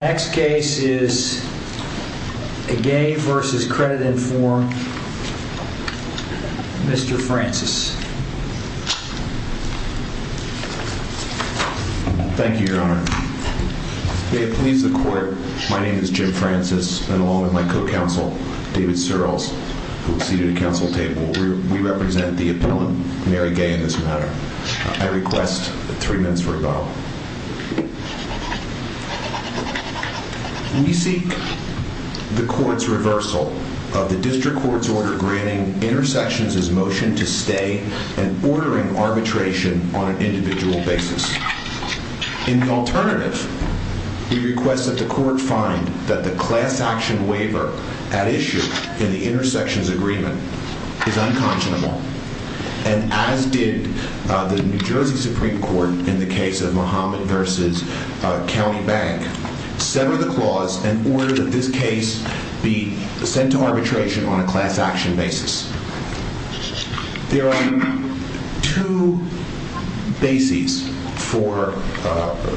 Next case is a Gay v. Creditinform. Mr. Francis. Thank you, your honor. May it please the court, my name is Jim Francis, and along with my co-counsel, David Searles, who is seated at the council table. We represent the appellant, Mary Gay, in this matter. I request three minutes for rebuttal. We seek the court's reversal of the district court's order granting intersections his motion to stay and ordering arbitration on an individual basis. In the alternative, we request that the court find that the class action waiver at issue in the intersections agreement is unconscionable. And as did the New Jersey Supreme Court in the case of Muhammad v. County Bank, sever the clause and order that this case be sent to arbitration on a class action basis. There are two bases for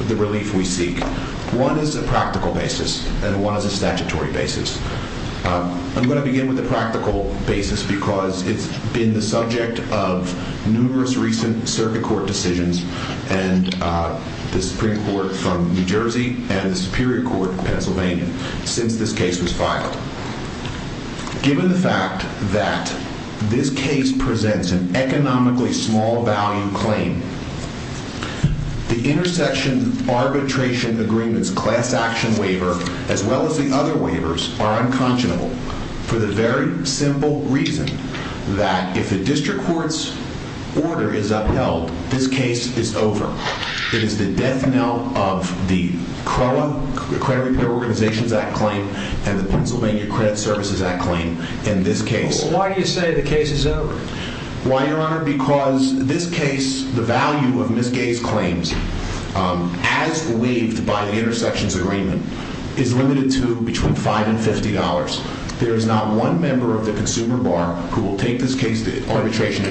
the relief we seek. One is a practical basis and one is a statutory basis. I'm going to begin with the practical basis because it's been the subject of numerous recent circuit court decisions, and the Supreme Court from New Jersey and the Superior Court of Pennsylvania since this case was filed. Given the fact that this case presents an economically small value claim, the intersection arbitration agreement's class action waiver as well as the other waivers are unconscionable for the very simple reason that if the district court's order is upheld, this case is over. It is the death knell of the CROA, the Credit Repair Organizations Act claim, and the Pennsylvania Credit Services Act claim in this case. Why do you say the case is over? Why, Your Honor? Because this case, the value of Ms. Gay's claims, as believed by the intersections agreement, is limited to between $5 and $50. There is not one member of the consumer bar who will take this case to arbitration.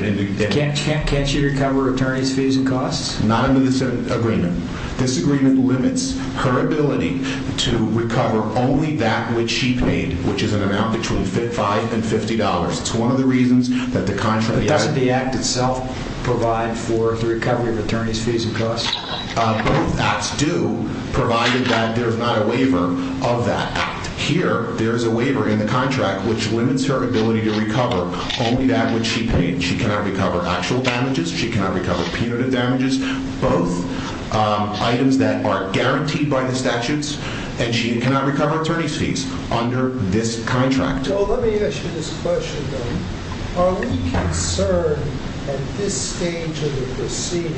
Can't she recover attorney's fees and costs? Not under this agreement. This agreement limits her ability to recover only that which she paid, which is an amount between $5 and $50. It's one of the reasons that the contract— But doesn't the act itself provide for the recovery of attorney's fees and costs? Both acts do, provided that there's not a waiver of that act. Here, there is a waiver in the contract which limits her ability to recover only that which she paid. She cannot recover actual damages. She cannot recover punitive damages. Both items that are guaranteed by the statutes. And she cannot recover attorney's fees under this contract. So let me ask you this question, then. Are we concerned at this stage of the proceeding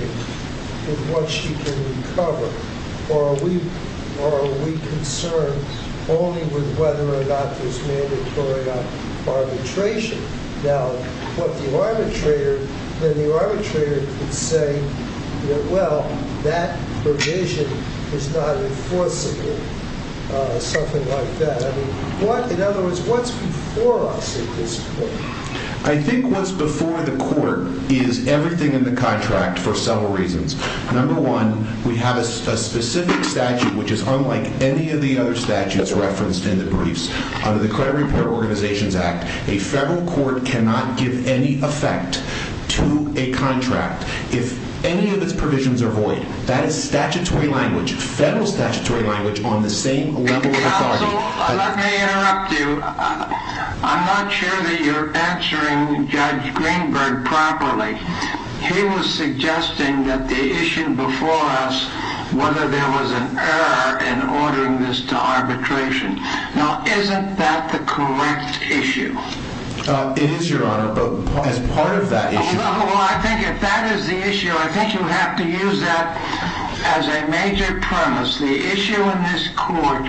with what she can recover? Or are we concerned only with whether or not there's mandatory arbitration? Now, what the arbitrator— Then the arbitrator could say, well, that provision is not enforceable. Something like that. In other words, what's before us at this point? I think what's before the court is everything in the contract for several reasons. Number one, we have a specific statute which is unlike any of the other statutes referenced in the briefs. Under the Credit Repair Organizations Act, a federal court cannot give any effect to a contract if any of its provisions are void. That is statutory language, federal statutory language, on the same level of authority— Counsel, let me interrupt you. I'm not sure that you're answering Judge Greenberg properly. He was suggesting that the issue before us, whether there was an error in ordering this to arbitration. Now, isn't that the correct issue? It is, Your Honor, but as part of that issue— Well, I think if that is the issue, I think you have to use that as a major premise. The issue in this court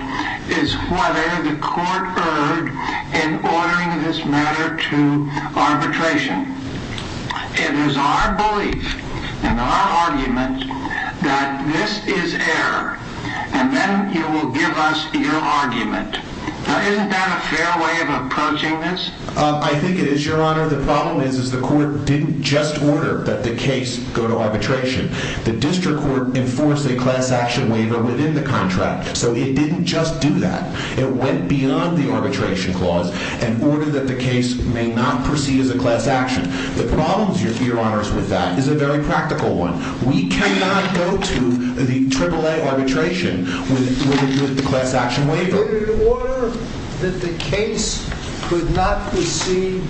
is whether the court erred in ordering this matter to arbitration. It is our belief and our argument that this is error, and then you will give us your argument. Now, isn't that a fair way of approaching this? I think it is, Your Honor. The problem is the court didn't just order that the case go to arbitration. The district court enforced a class action waiver within the contract, so it didn't just do that. It went beyond the arbitration clause and ordered that the case may not proceed as a class action. The problem, Your Honor, with that is a very practical one. We cannot go to the AAA arbitration with a class action waiver. Order that the case could not proceed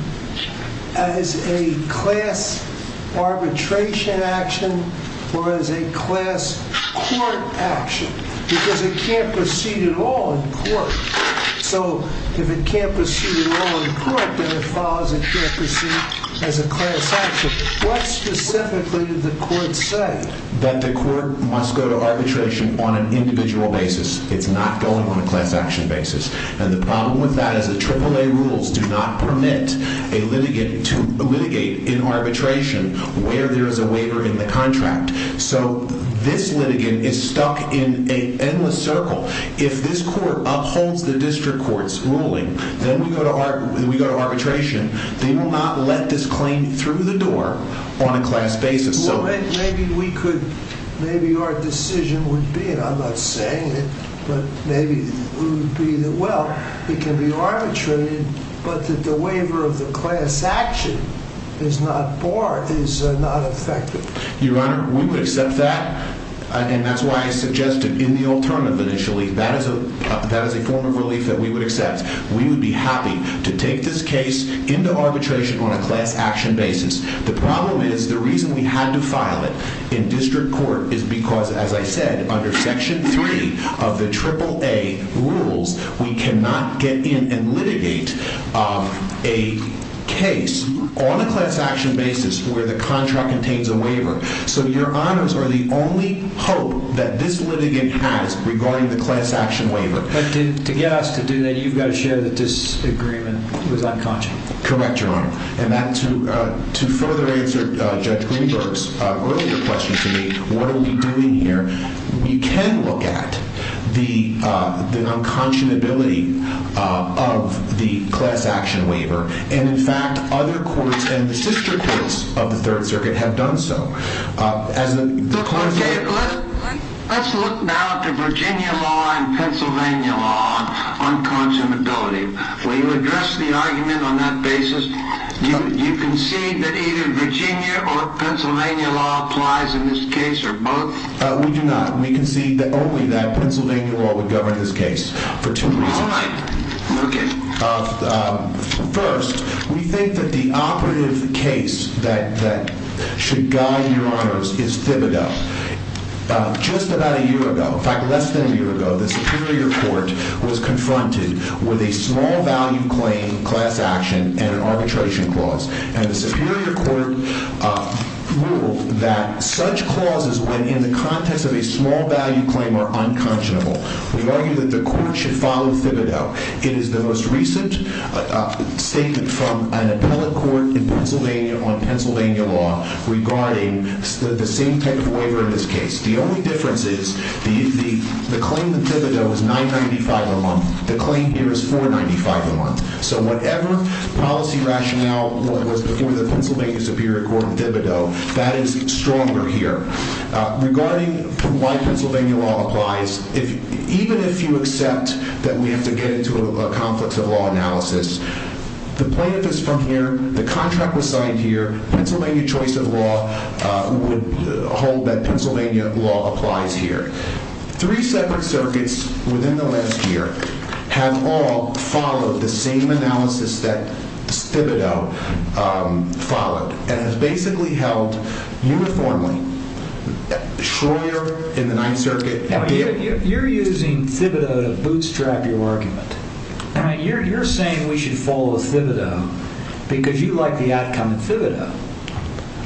as a class arbitration action or as a class court action, because it can't proceed at all in court. So if it can't proceed at all in court, then it follows it can't proceed as a class action. What specifically did the court say? That the court must go to arbitration on an individual basis. It's not going on a class action basis. And the problem with that is the AAA rules do not permit a litigant to litigate in arbitration where there is a waiver in the contract. So this litigant is stuck in an endless circle. If this court upholds the district court's ruling, then we go to arbitration. They will not let this claim through the door on a class basis. Maybe our decision would be, and I'm not saying it, but maybe it would be that, well, it can be arbitrated, but that the waiver of the class action is not barred, is not effective. Your Honor, we would accept that, and that's why I suggested in the alternative initially, that is a form of relief that we would accept. We would be happy to take this case into arbitration on a class action basis. The problem is the reason we had to file it in district court is because, as I said, under Section 3 of the AAA rules, we cannot get in and litigate a case on a class action basis where the contract contains a waiver. So Your Honors are the only hope that this litigant has regarding the class action waiver. But to get us to do that, you've got to show that this agreement was unconscionable. Correct, Your Honor. And to further answer Judge Greenberg's earlier question to me, what are we doing here, you can look at the unconscionability of the class action waiver. And, in fact, other courts and the district courts of the Third Circuit have done so. Let's look now at the Virginia law and Pennsylvania law on unconscionability. Will you address the argument on that basis? Do you concede that either Virginia or Pennsylvania law applies in this case, or both? We do not. We concede only that Pennsylvania law would govern this case for two reasons. All right. First, we think that the operative case that should guide Your Honors is Thibodeau. Just about a year ago, in fact, less than a year ago, the Superior Court was confronted with a small value claim class action and an arbitration clause. And the Superior Court ruled that such clauses, when in the context of a small value claim, are unconscionable. We've argued that the court should follow Thibodeau. It is the most recent statement from an appellate court in Pennsylvania on Pennsylvania law regarding the same type of waiver in this case. The only difference is the claim in Thibodeau is $9.95 a month. The claim here is $4.95 a month. So whatever policy rationale was before the Pennsylvania Superior Court on Thibodeau, that is stronger here. Regarding why Pennsylvania law applies, even if you accept that we have to get into a conflict of law analysis, the plaintiff is from here. The contract was signed here. Pennsylvania choice of law would hold that Pennsylvania law applies here. Three separate circuits within the last year have all followed the same analysis that Thibodeau followed and has basically held uniformly. Schroeder in the Ninth Circuit. You're using Thibodeau to bootstrap your argument. You're saying we should follow Thibodeau because you like the outcome of Thibodeau.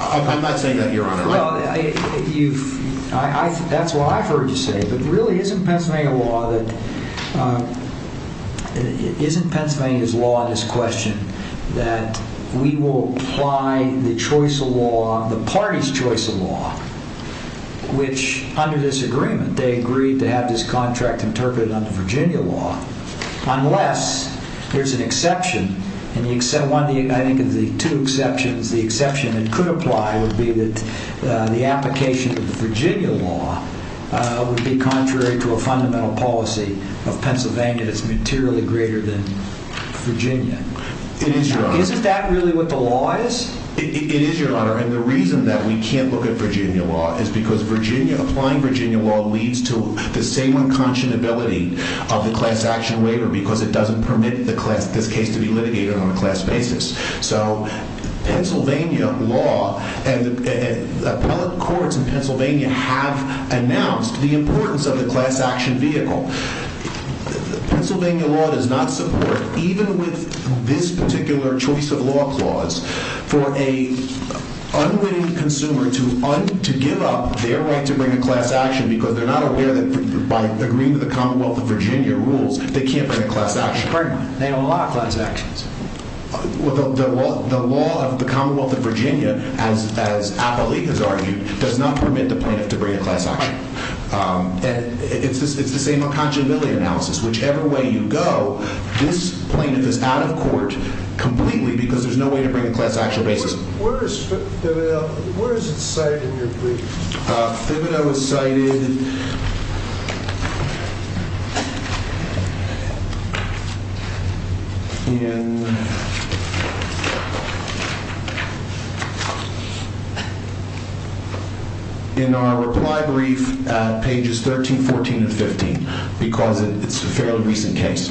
I'm not saying that, Your Honor. That's what I've heard you say. But really, isn't Pennsylvania's law in this question that we will apply the choice of law, the party's choice of law, which under this agreement, they agreed to have this contract interpreted under Virginia law, unless there's an exception. I think of the two exceptions, the exception that could apply would be that the application of the Virginia law would be contrary to a fundamental policy of Pennsylvania that's materially greater than Virginia. It is, Your Honor. Isn't that really what the law is? It is, Your Honor. And the reason that we can't look at Virginia law is because Virginia, applying Virginia law leads to the same unconscionability of the class action waiver because it doesn't permit this case to be litigated on a class basis. So Pennsylvania law and appellate courts in Pennsylvania have announced the importance of the class action vehicle. Pennsylvania law does not support, even with this particular choice of law clause, for an unwitting consumer to give up their right to bring a class action because they're not aware that by agreeing to the Commonwealth of Virginia rules, they can't bring a class action. Pardon me. They don't allow class actions. Well, the law of the Commonwealth of Virginia, as appellate has argued, does not permit the plaintiff to bring a class action. And it's the same unconscionability analysis. Whichever way you go, this plaintiff is out of court completely because there's no way to bring a class action basis. Where is it cited in your brief? Thibodeau is cited in our reply brief at pages 13, 14, and 15 because it's a fairly recent case.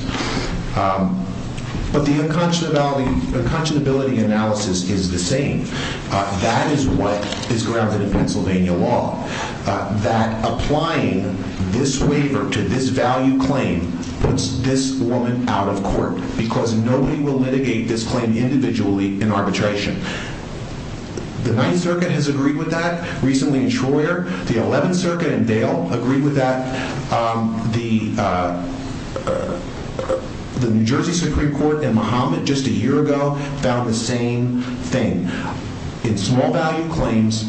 But the unconscionability analysis is the same. That is what is grounded in Pennsylvania law. That applying this waiver to this value claim puts this woman out of court because nobody will litigate this claim individually in arbitration. The 9th Circuit has agreed with that, recently in Troyer. The 11th Circuit in Dale agreed with that. The New Jersey Supreme Court in Mahomet just a year ago found the same thing. In small value claims,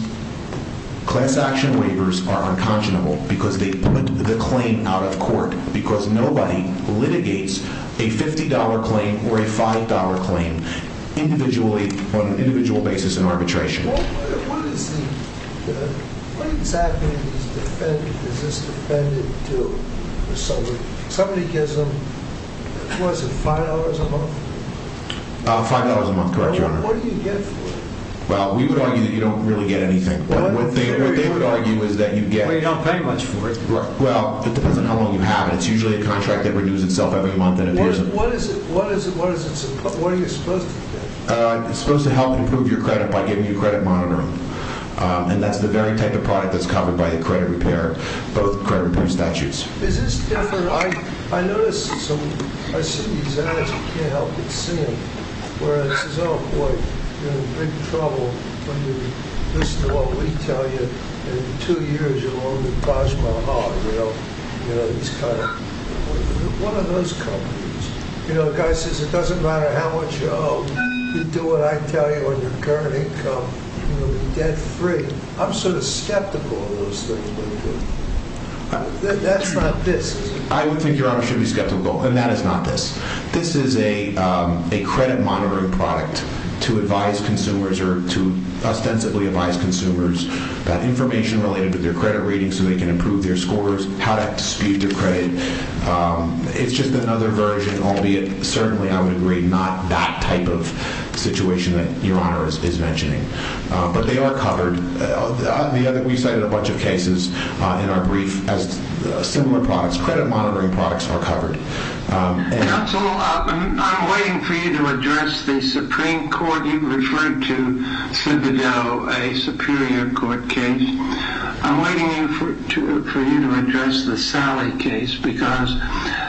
class action waivers are unconscionable because they put the claim out of court because nobody litigates a $50 claim or a $5 claim on an individual basis in arbitration. What exactly does this defendant do? Somebody gives them, what is it, $5 a month? What do you get for it? Well, we would argue that you don't really get anything. What they would argue is that you get... Well, you don't pay much for it. Well, it depends on how long you have it. It's usually a contract that renews itself every month. What is it supposed to do? It's supposed to help improve your credit by giving you credit monitoring. And that's the very type of product that's covered by the credit repair, both credit repair statutes. Is this different? I noticed some... I see these ads. I can't help but see them. Where it says, oh, boy, you're in big trouble when you listen to what we tell you. And in two years, you'll own the Taj Mahal. You know, it's kind of... What are those companies? You know, the guy says, it doesn't matter how much you owe. You do what I tell you on your current income. You'll be debt-free. I'm sort of skeptical of those things. That's not this. I would think Your Honor should be skeptical, and that is not this. This is a credit monitoring product to advise consumers or to ostensibly advise consumers about information related to their credit rating so they can improve their scores, how to dispute their credit. It's just another version, albeit certainly, I would agree, not that type of situation that Your Honor is mentioning. But they are covered. We cited a bunch of cases in our brief as similar products. Credit monitoring products are covered. Counsel, I'm waiting for you to address the Supreme Court. You've referred to, Senator Doe, a Superior Court case. I'm waiting for you to address the Sally case because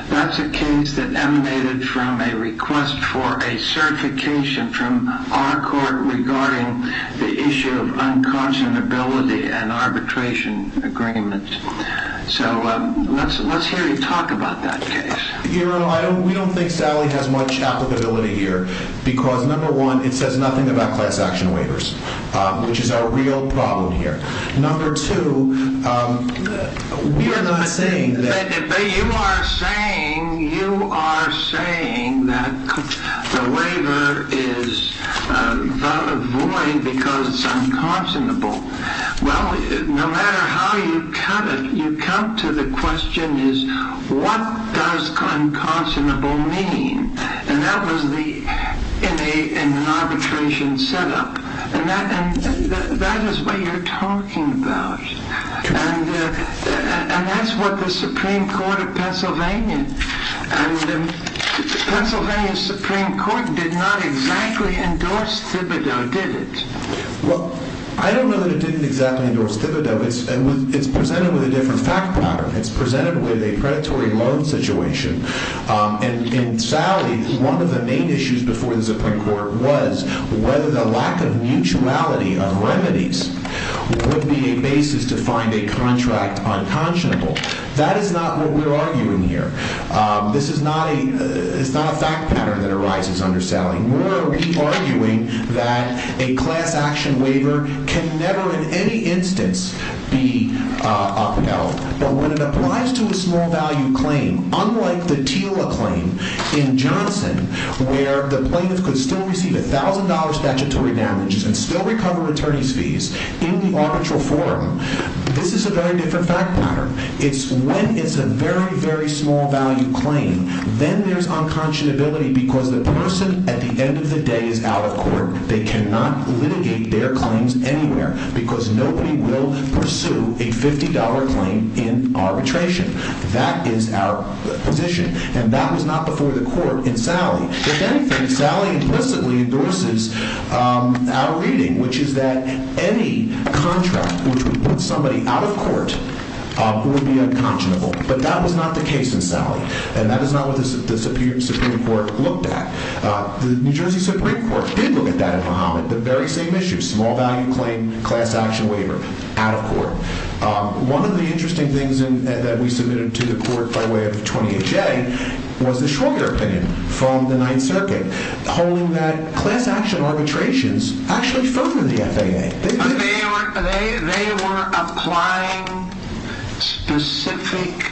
that's a case that emanated from a request for a certification from our court regarding the issue of unconscionability and arbitration agreement. So let's hear you talk about that case. Your Honor, we don't think Sally has much applicability here because, number one, it says nothing about class action waivers, which is our real problem here. Number two, we are not saying that. You are saying that the waiver is void because it's unconscionable. Well, no matter how you cut it, you come to the question is what does unconscionable mean? And that was in an arbitration setup. And that is what you're talking about. And that's what the Supreme Court of Pennsylvania and Pennsylvania Supreme Court did not exactly endorse Thibodeau, did it? Well, I don't know that it didn't exactly endorse Thibodeau. It's presented with a different fact pattern. It's presented with a predatory loan situation. And in Sally, one of the main issues before the Supreme Court was whether the lack of mutuality of remedies would be a basis to find a contract unconscionable. That is not what we're arguing here. This is not a fact pattern that arises under Sally. Nor are we arguing that a class action waiver can never in any instance be upheld. But when it applies to a small value claim, unlike the TILA claim in Johnson, where the plaintiff could still receive $1,000 statutory damages and still recover attorney's fees in the arbitral forum, this is a very different fact pattern. It's when it's a very, very small value claim, then there's unconscionability because the person at the end of the day is out of court. They cannot litigate their claims anywhere because nobody will pursue a $50 claim in arbitration. That is our position. And that was not before the court in Sally. If anything, Sally implicitly endorses our reading, which is that any contract which would put somebody out of court would be unconscionable. But that was not the case in Sally. And that is not what the Supreme Court looked at. The New Jersey Supreme Court did look at that in Muhammad, the very same issue, small value claim, class action waiver, out of court. One of the interesting things that we submitted to the court by way of 20HA was the Schroeder opinion from the Ninth Circuit, holding that class action arbitrations actually further the FAA. They were applying specific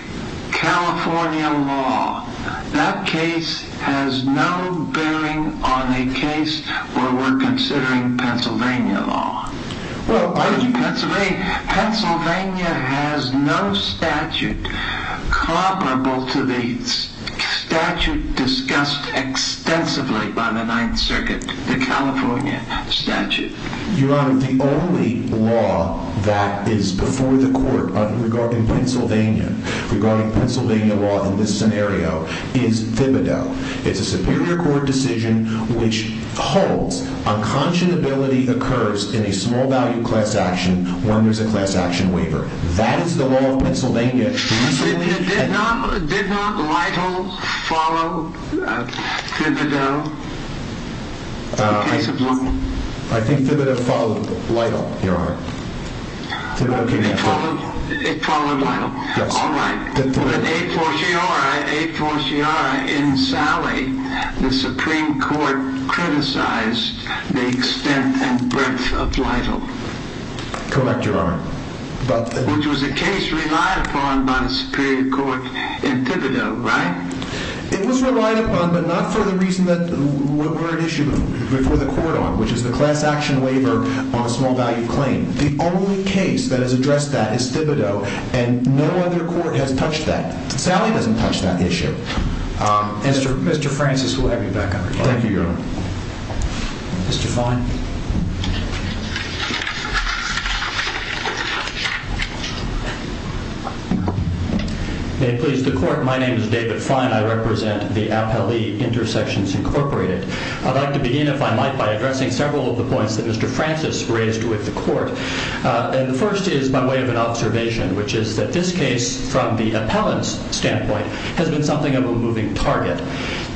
California law. That case has no bearing on a case where we're considering Pennsylvania law. Pennsylvania has no statute comparable to the statute discussed extensively by the Ninth Circuit, the California statute. Your Honor, the only law that is before the court regarding Pennsylvania, regarding Pennsylvania law in this scenario, is Thibodeau. It's a Superior Court decision which holds unconscionability occurs in a small value class action when there's a class action waiver. That is the law of Pennsylvania. Did not Lytle follow Thibodeau in the case of London? I think Thibodeau followed Lytle, Your Honor. It followed Lytle. Yes. All right. But a fortiori, in Sally, the Supreme Court criticized the extent and breadth of Lytle. Correct, Your Honor. Which was a case relied upon by the Superior Court in Thibodeau, right? It was relied upon, but not for the reason that we're at issue before the court on, which is the class action waiver on a small value claim. The only case that has addressed that is Thibodeau, and no other court has touched that. Sally doesn't touch that issue. Mr. Francis, we'll have you back on the floor. Thank you, Your Honor. Mr. Fine. May it please the court, my name is David Fine. I represent the Appellee Intersections Incorporated. I'd like to begin, if I might, by addressing several of the points that Mr. Francis raised with the court. And the first is by way of an observation, which is that this case, from the appellant's standpoint, has been something of a moving target.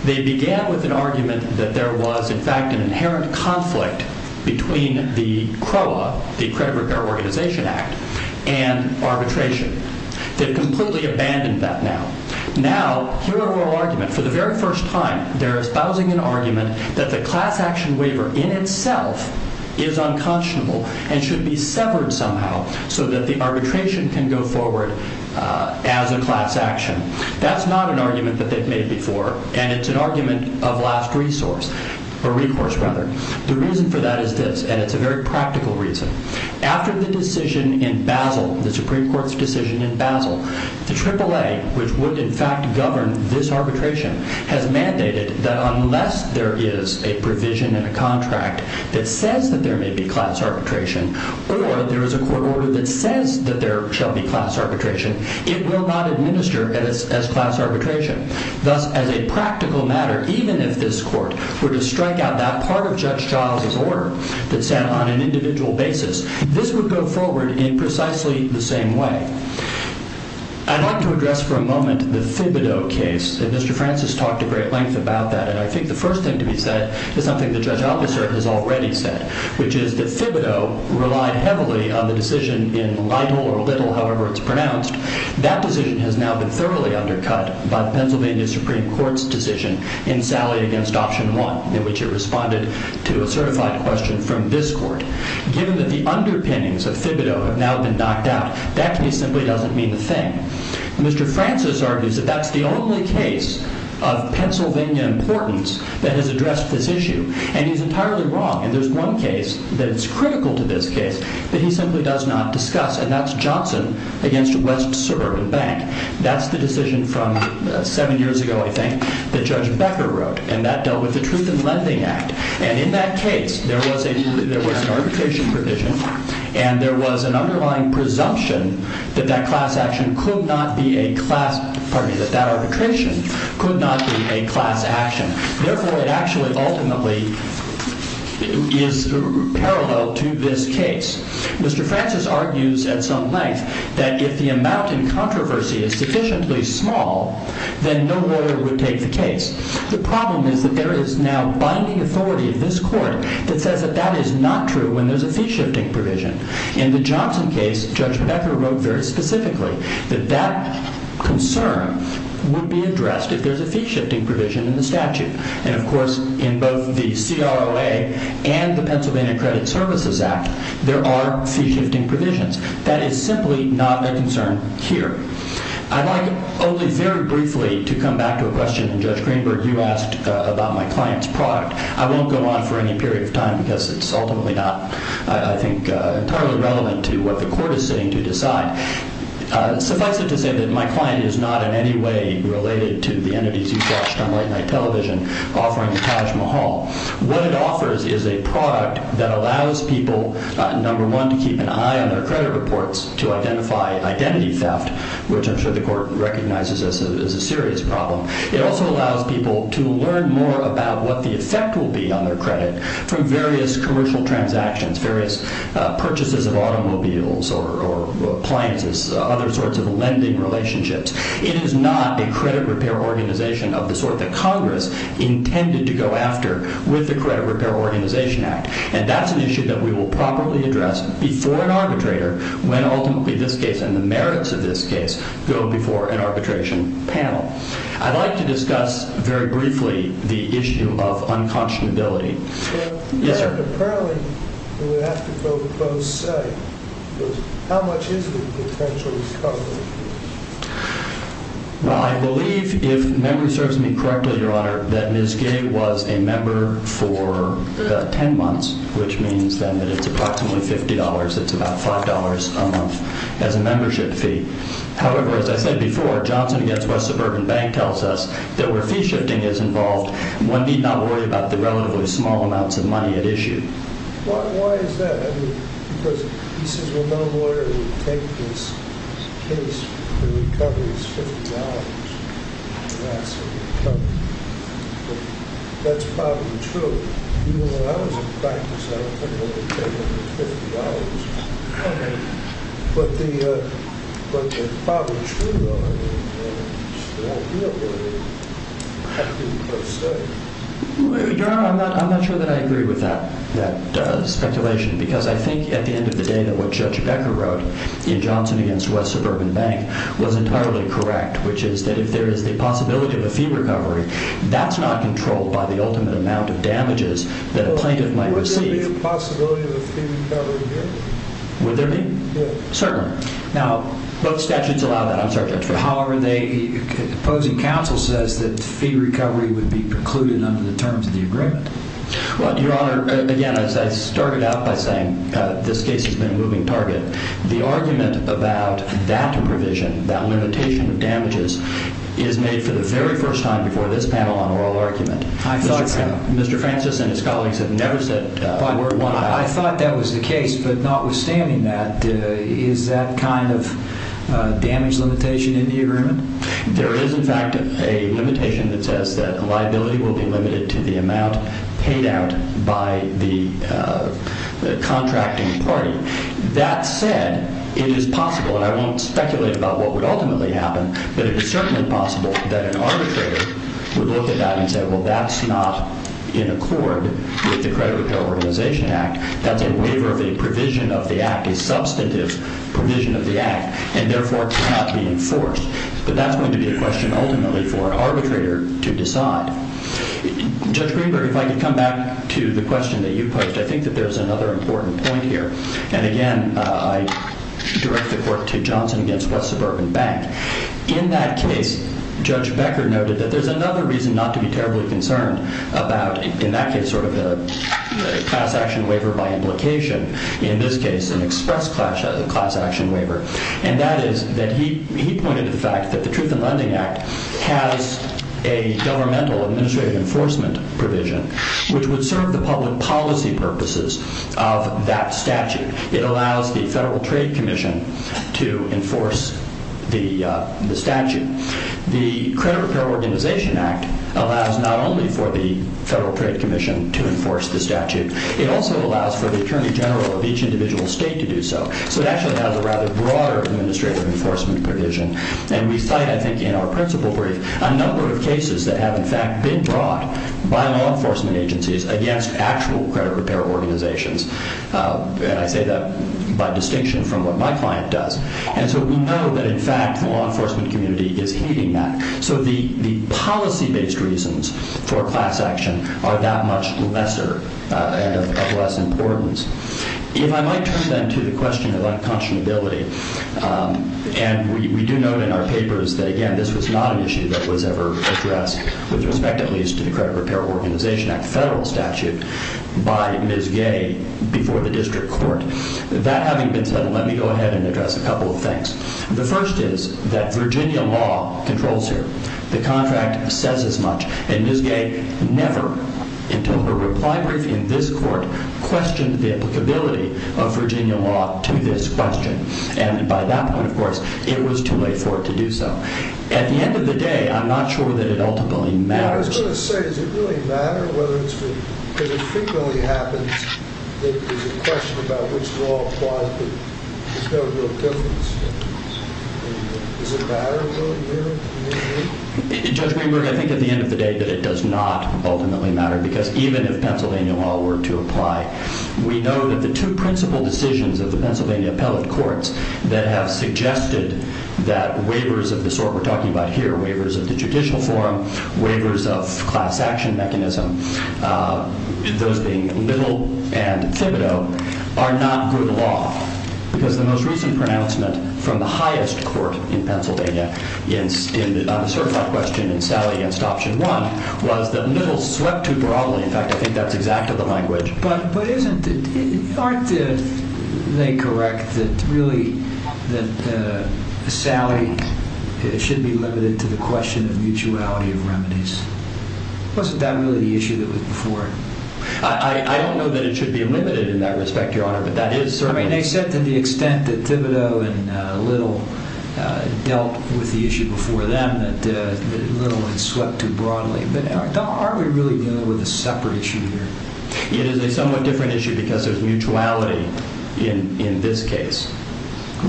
They began with an argument that there was, in fact, an inherent conflict between the CROA, the Credit Repair Organization Act, and arbitration. They've completely abandoned that now. Now, here are our arguments. For the very first time, they're espousing an argument that the class action waiver in itself is unconscionable and should be severed somehow so that the arbitration can go forward as a class action. That's not an argument that they've made before, and it's an argument of last resource, or recourse, rather. The reason for that is this, and it's a very practical reason. After the decision in Basel, the Supreme Court's decision in Basel, the AAA, which would in fact govern this arbitration, has mandated that unless there is a provision in a contract that says that there may be class arbitration, or there is a court order that says that there shall be class arbitration, it will not administer as class arbitration. Thus, as a practical matter, even if this court were to strike out that part of Judge Giles' order that said on an individual basis, this would go forward in precisely the same way. I'd like to address for a moment the Thibodeau case, and Mr. Francis talked at great length about that. I think the first thing to be said is something the judge officer has already said, which is that Thibodeau relied heavily on the decision in Lytle or Little, however it's pronounced. That decision has now been thoroughly undercut by the Pennsylvania Supreme Court's decision in Sallie against Option 1, in which it responded to a certified question from this court. Given that the underpinnings of Thibodeau have now been knocked out, that simply doesn't mean a thing. Mr. Francis argues that that's the only case of Pennsylvania importance that has addressed this issue, and he's entirely wrong. There's one case that's critical to this case that he simply does not discuss, and that's Johnson against West Suburban Bank. That's the decision from seven years ago, I think, that Judge Becker wrote, and that dealt with the Truth in Lending Act. And in that case, there was an arbitration provision, and there was an underlying presumption that that arbitration could not be a class action. Therefore, it actually ultimately is parallel to this case. Mr. Francis argues at some length that if the amount in controversy is sufficiently small, then no lawyer would take the case. The problem is that there is now binding authority of this court that says that that is not true when there's a fee-shifting provision. In the Johnson case, Judge Becker wrote very specifically that that concern would be addressed if there's a fee-shifting provision in the statute. And, of course, in both the CROA and the Pennsylvania Credit Services Act, there are fee-shifting provisions. That is simply not a concern here. I'd like only very briefly to come back to a question that Judge Greenberg, you asked about my client's product. I won't go on for any period of time because it's ultimately not, I think, entirely relevant to what the court is sitting to decide. Suffice it to say that my client is not in any way related to the entities you've watched on late-night television offering the Taj Mahal. What it offers is a product that allows people, number one, to keep an eye on their credit reports to identify identity theft, which I'm sure the court recognizes as a serious problem. It also allows people to learn more about what the effect will be on their credit from various commercial transactions, various purchases of automobiles or appliances, other sorts of lending relationships. It is not a credit repair organization of the sort that Congress intended to go after with the Credit Repair Organization Act. And that's an issue that we will properly address before an arbitrator when ultimately this case and the merits of this case go before an arbitration panel. I'd like to discuss very briefly the issue of unconscionability. Yes, sir. Well, I believe, if memory serves me correctly, Your Honor, that Ms. Gay was a member for 10 months, which means then that it's approximately $50. It's about $5 a month as a membership fee. However, as I said before, Johnson Against West Suburban Bank tells us that where fee-shifting is involved, one need not worry about the relatively small amounts of money at issue. Why is that? I mean, because he says, well, no lawyer would take this case and recover his $50. That's probably true. Even when I was in practice, I couldn't really take under $50. But it's probably true, though. Your Honor, I'm not sure that I agree with that speculation because I think at the end of the day that what Judge Becker wrote in Johnson Against West Suburban Bank was entirely correct, which is that if there is the possibility of a fee recovery, that's not controlled by the ultimate amount of damages that a plaintiff might receive. Would there be a possibility of a fee recovery here? Would there be? Certainly. Now, both statutes allow that. However, the opposing counsel says that fee recovery would be precluded under the terms of the agreement. Well, Your Honor, again, as I started out by saying, this case has been a moving target. The argument about that provision, that limitation of damages, is made for the very first time before this panel on oral argument. I thought so. Mr. Francis and his colleagues have never said that word once. I thought that was the case. But notwithstanding that, is that kind of damage limitation in the agreement? There is, in fact, a limitation that says that liability will be limited to the amount paid out by the contracting party. That said, it is possible, and I won't speculate about what would ultimately happen, but it is certainly possible that an arbitrator would look at that and say, well, that's not in accord with the Credit Repair Organization Act. That's a waiver of a provision of the act, a substantive provision of the act, and therefore cannot be enforced. But that's going to be a question ultimately for an arbitrator to decide. Judge Greenberg, if I could come back to the question that you posed, I think that there's another important point here. And again, I direct the court to Johnson against West Suburban Bank. In that case, Judge Becker noted that there's another reason not to be terribly concerned about, in that case, sort of a class action waiver by implication. In this case, an express class action waiver. And that is that he pointed to the fact that the Truth in Lending Act has a governmental administrative enforcement provision, which would serve the public policy purposes of that statute. It allows the Federal Trade Commission to enforce the statute. The Credit Repair Organization Act allows not only for the Federal Trade Commission to enforce the statute, it also allows for the Attorney General of each individual state to do so. So it actually has a rather broader administrative enforcement provision. And we cite, I think, in our principal brief, a number of cases that have, in fact, been brought by law enforcement agencies against actual credit repair organizations. And I say that by distinction from what my client does. And so we know that, in fact, the law enforcement community is hating that. So the policy-based reasons for class action are that much lesser and of less importance. If I might turn, then, to the question of unconscionability, and we do note in our papers that, again, this was not an issue that was ever addressed with respect, at least, to the Credit Repair Organization Act federal statute by Ms. Gay before the district court. That having been said, let me go ahead and address a couple of things. The first is that Virginia law controls here. The contract says as much. And Ms. Gay never, until her reply brief in this court, questioned the applicability of Virginia law to this question. And by that point, of course, it was too late for it to do so. At the end of the day, I'm not sure that it ultimately matters. I was going to say, does it really matter whether it's been – because it frequently happens that there's a question about which law applies, but there's no real difference. Does it matter, really, here in the community? Judge Greenberg, I think at the end of the day that it does not ultimately matter because even if Pennsylvania law were to apply, we know that the two principal decisions of the Pennsylvania appellate courts that have suggested that waivers of the sort we're talking about here, waivers of the judicial forum, waivers of class action mechanism, those being Little and Thibodeau, are not good law. Because the most recent pronouncement from the highest court in Pennsylvania on the certified question in Sally against option one was that Little swept too broadly. In fact, I think that's exactly the language. But aren't they correct that Sally should be limited to the question of mutuality of remedies? Wasn't that really the issue that was before? I don't know that it should be limited in that respect, Your Honor, but that is certainly – I mean, they said to the extent that Thibodeau and Little dealt with the issue before them that Little had swept too broadly. But aren't we really dealing with a separate issue here? It is a somewhat different issue because there's mutuality in this case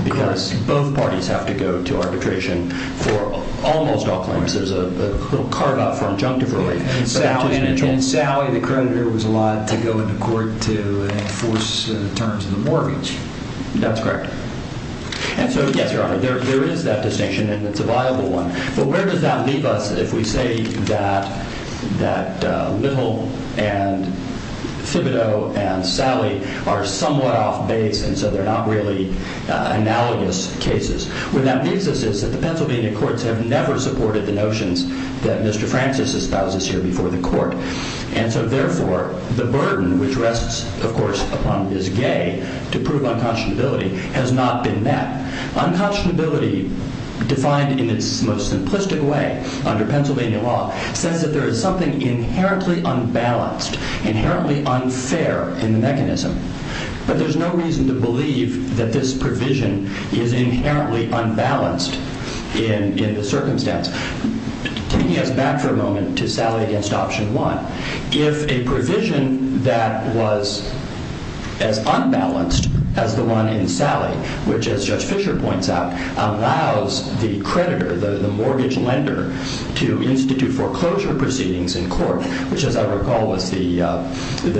because both parties have to go to arbitration for almost all claims. There's a little carve-out for injunctive relief. And in Sally, the creditor was allowed to go into court to enforce terms of the mortgage. That's correct. And so, yes, Your Honor, there is that distinction, and it's a viable one. Well, where does that leave us if we say that Little and Thibodeau and Sally are somewhat off-base and so they're not really analogous cases? What that leaves us is that the Pennsylvania courts have never supported the notions that Mr. Francis espouses here before the court. And so, therefore, the burden which rests, of course, upon Ms. Gay to prove unconscionability has not been met. Unconscionability, defined in its most simplistic way under Pennsylvania law, says that there is something inherently unbalanced, inherently unfair in the mechanism. But there's no reason to believe that this provision is inherently unbalanced in the circumstance. Taking us back for a moment to Sally against Option 1, if a provision that was as unbalanced as the one in Sally, which, as Judge Fisher points out, allows the creditor, the mortgage lender, to institute foreclosure proceedings in court, which, as I recall, was the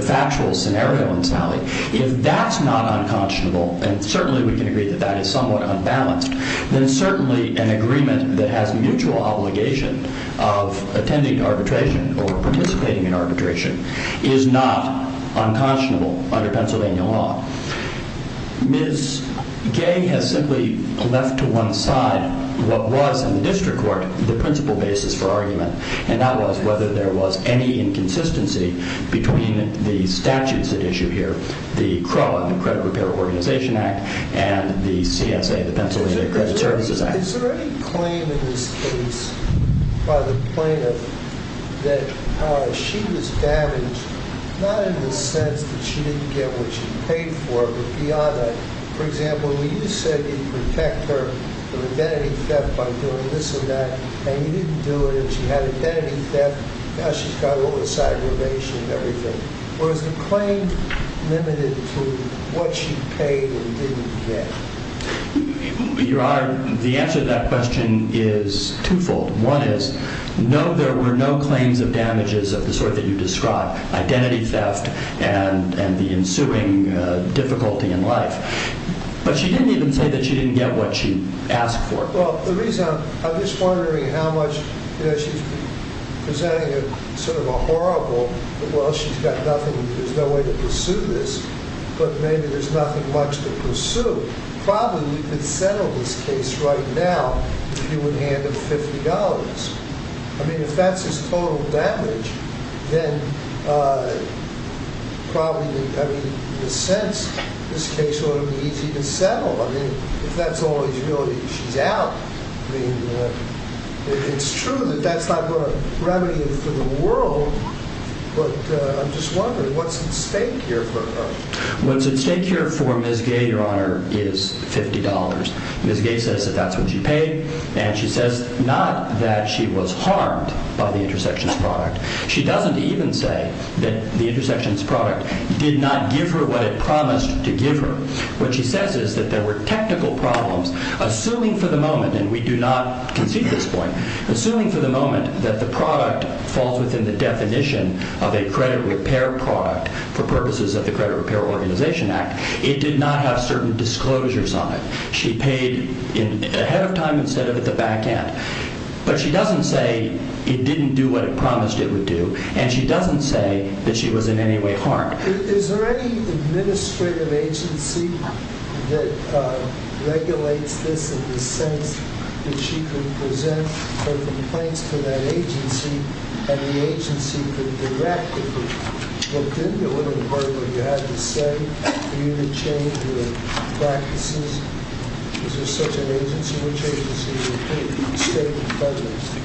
factual scenario in Sally, if that's not unconscionable, and certainly we can agree that that is somewhat unbalanced, then certainly an agreement that has mutual obligation of attending arbitration or participating in arbitration is not unconscionable under Pennsylvania law. Ms. Gay has simply left to one side what was, in the district court, the principal basis for argument, and that was whether there was any inconsistency between the statutes at issue here, the CRAW, the Credit Repair Organization Act, and the CSA, the Pennsylvania Credit Services Act. Is there any claim in this case by the plaintiff that she was damaged, not in the sense that she didn't get what she paid for, but beyond that, for example, when you said you'd protect her from identity theft by doing this or that, and you didn't do it, and she had identity theft, now she's got all this aggravation and everything. Or is the claim limited to what she paid and didn't get? Your Honor, the answer to that question is twofold. One is, no, there were no claims of damages of the sort that you described, identity theft and the ensuing difficulty in life. But she didn't even say that she didn't get what she asked for. Well, the reason, I'm just wondering how much, you know, she's presenting sort of a horrible, well, she's got nothing, there's no way to pursue this, but maybe there's nothing much to pursue. Probably we could settle this case right now if you would hand her $50. I mean, if that's his total damage, then probably, I mean, in a sense, this case ought to be easy to settle. I mean, if that's all he's really, she's out. I mean, it's true that that's not going to remedy it for the world, but I'm just wondering, what's at stake here for her? What's at stake here for Ms. Gay, Your Honor, is $50. Ms. Gay says that that's what she paid, and she says not that she was harmed by the Intersections product. She doesn't even say that the Intersections product did not give her what it promised to give her. What she says is that there were technical problems, assuming for the moment, and we do not concede this point, assuming for the moment that the product falls within the definition of a credit repair product for purposes of the Credit Repair Organization Act, it did not have certain disclosures on it. She paid ahead of time instead of at the back end, but she doesn't say it didn't do what it promised it would do, and she doesn't say that she was in any way harmed. Is there any administrative agency that regulates this in the sense that she could present her complaints to that agency, and the agency could direct it, but then it wouldn't hurt what you had to say for you to change your practices? Is there such an agency? Which agency would state the premise?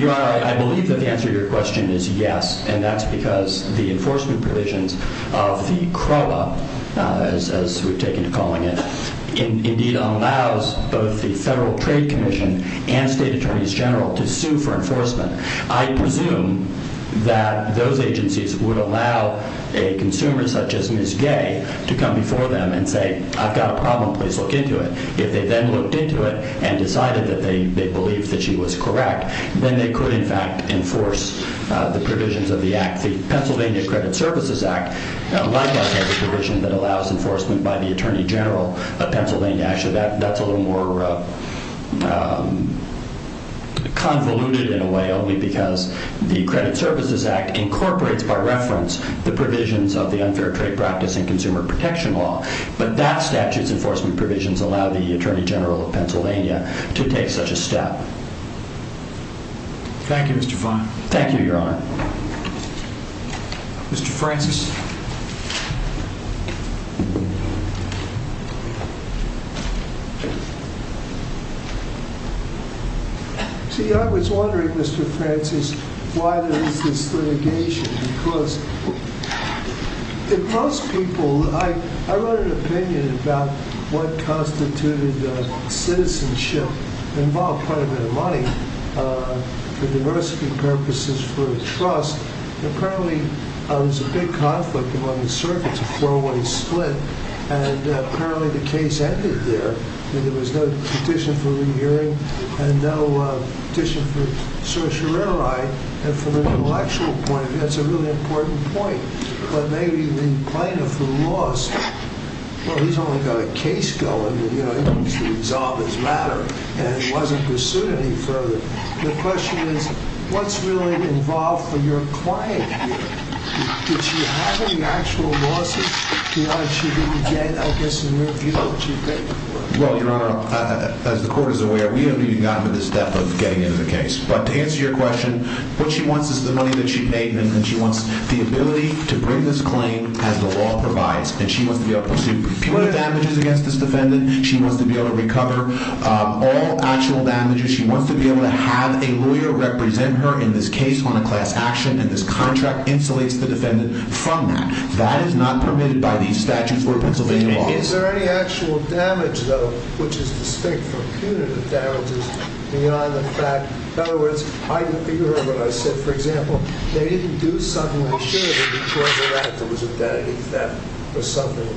I believe that the answer to your question is yes, and that's because the enforcement provisions of the CROA, as we've taken to calling it, indeed allows both the Federal Trade Commission and State Attorneys General to sue for enforcement. I presume that those agencies would allow a consumer such as Ms. Gay to come before them and say, I've got a problem, please look into it. If they then looked into it and decided that they believed that she was correct, then they could, in fact, enforce the provisions of the Act. The Pennsylvania Credit Services Act likewise has a provision that allows enforcement by the Attorney General of Pennsylvania. Actually, that's a little more convoluted in a way only because the Credit Services Act incorporates, by reference, the provisions of the unfair trade practice and consumer protection law. But that statute's enforcement provisions allow the Attorney General of Pennsylvania to take such a step. Thank you, Mr. Fine. Thank you, Your Honor. Mr. Francis? See, I was wondering, Mr. Francis, why there is this litigation. Because, for most people, I wrote an opinion about what constituted citizenship. It involved quite a bit of money for diversity purposes, for trust. Apparently, there was a big conflict among the circuits, a four-way split, and apparently the case ended there. There was no petition for re-hearing and no petition for certiorari. And from an intellectual point of view, that's a really important point. But maybe the plaintiff who lost, well, he's only got a case going. You know, he needs to resolve his matter. And he wasn't pursued any further. The question is, what's really involved for your client here? Did she have any actual losses? Or did she get, I guess, a mere view of what she paid for? Well, Your Honor, as the Court is aware, we haven't even gotten to this step of getting into the case. But to answer your question, what she wants is the money that she paid. And she wants the ability to bring this claim as the law provides. And she wants to be able to pursue punitive damages against this defendant. She wants to be able to recover all actual damages. She wants to be able to have a lawyer represent her in this case on a class action. And this contract insulates the defendant from that. That is not permitted by these statutes or Pennsylvania laws. Is there any actual damage, though, which is distinct from punitive damages beyond the fact? In other words, I can figure out what I said. For example, they didn't do something insurable because of that. There was a debt of defense or something.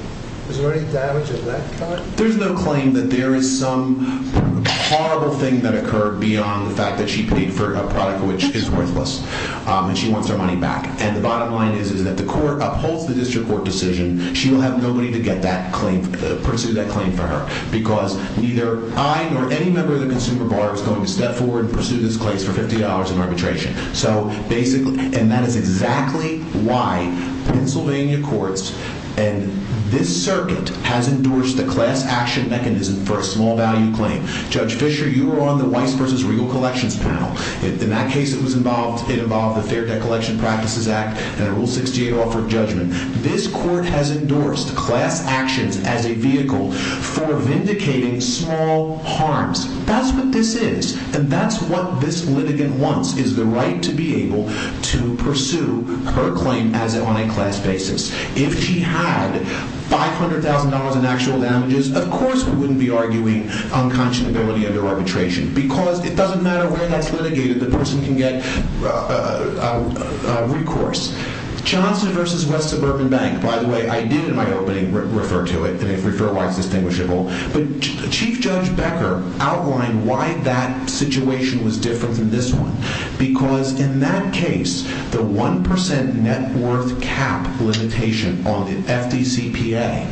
Is there any damage of that kind? There's no claim that there is some horrible thing that occurred beyond the fact that she paid for a product which is worthless. And she wants her money back. And the bottom line is that the Court upholds the district court decision. She will have nobody to pursue that claim for her because neither I nor any member of the consumer bar is going to step forward and pursue this case for $50 in arbitration. And that is exactly why Pennsylvania courts and this circuit has endorsed the class action mechanism for a small value claim. Judge Fisher, you were on the Weiss v. Regal Collections panel. In that case, it involved the Fair Debt Collection Practices Act and a Rule 68 offer of judgment. This court has endorsed class actions as a vehicle for vindicating small harms. That's what this is. And that's what this litigant wants is the right to be able to pursue her claim on a class basis. If she had $500,000 in actual damages, of course we wouldn't be arguing unconscionability under arbitration because it doesn't matter where that's litigated. The person can get recourse. Johnson v. West Suburban Bank, by the way, I did in my opening refer to it, and if referred to, it's distinguishable. But Chief Judge Becker outlined why that situation was different from this one. Because in that case, the 1% net worth cap limitation on the FDCPA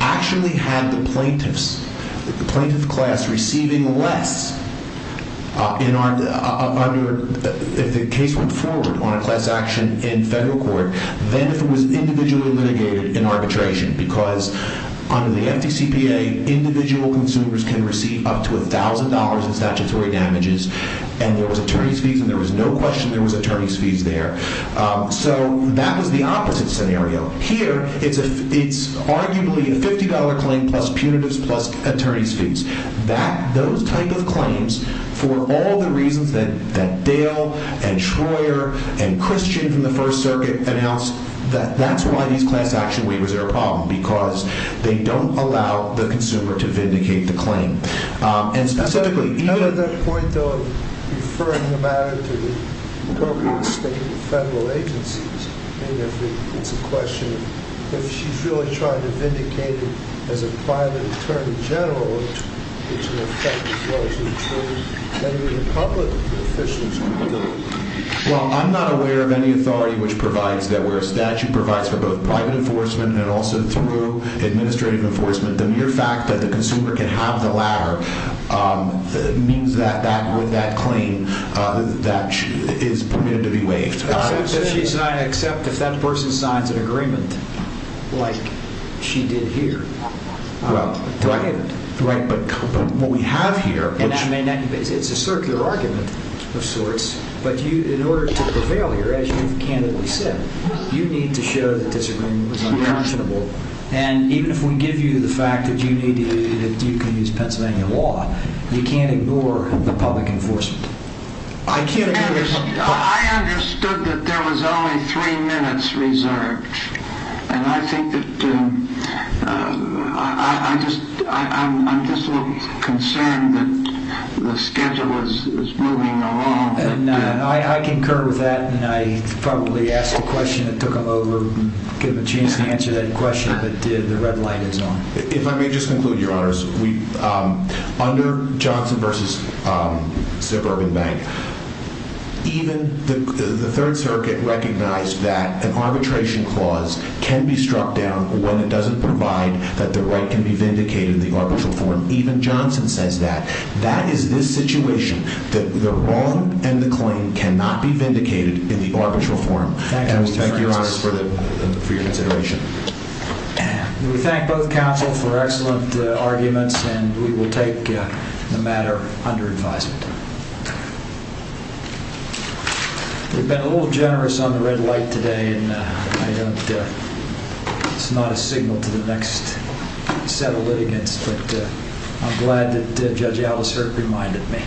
actually had the plaintiffs, the plaintiff class receiving less. If the case went forward on a class action in federal court, then if it was individually litigated in arbitration, because under the FDCPA, individual consumers can receive up to $1,000 in statutory damages, and there was attorney's fees, and there was no question there was attorney's fees there. So that was the opposite scenario. Here, it's arguably a $50 claim plus punitives plus attorney's fees. Those type of claims, for all the reasons that Dale and Troyer and Christian from the First Circuit announced, that's why these class action waivers are a problem, because they don't allow the consumer to vindicate the claim. And specifically... Well, I'm not aware of any authority which provides that where a statute provides for both private enforcement and also through administrative enforcement, the mere fact that the consumer can have the latter means that with that claim, that is permitted to be waived. Except if that person signs an agreement like she did here. Right, but what we have here... It's a circular argument of sorts, but in order to prevail here, as you've candidly said, you need to show that disagreement was unconscionable, and even if we give you the fact that you can use Pennsylvania law, you can't ignore the public enforcement. I understood that there was only three minutes reserved, and I think that... I'm just a little concerned that the schedule is moving along. I concur with that, and I probably asked a question that took them over, and gave them a chance to answer that question, but the red light is on. If I may just conclude, Your Honors, under Johnson v. Suburban Bank, even the Third Circuit recognized that an arbitration clause can be struck down when it doesn't provide that the right can be vindicated in the arbitral form. Even Johnson says that. That is this situation, that the wrong and the claim cannot be vindicated in the arbitral form. Thank you, Mr. Francis. Thank you, Your Honors, for your consideration. We thank both counsel for excellent arguments, and we will take the matter under advisement. You've been a little generous on the red light today, and it's not a signal to the next set of litigants, but I'm glad that Judge Alice Herb reminded me.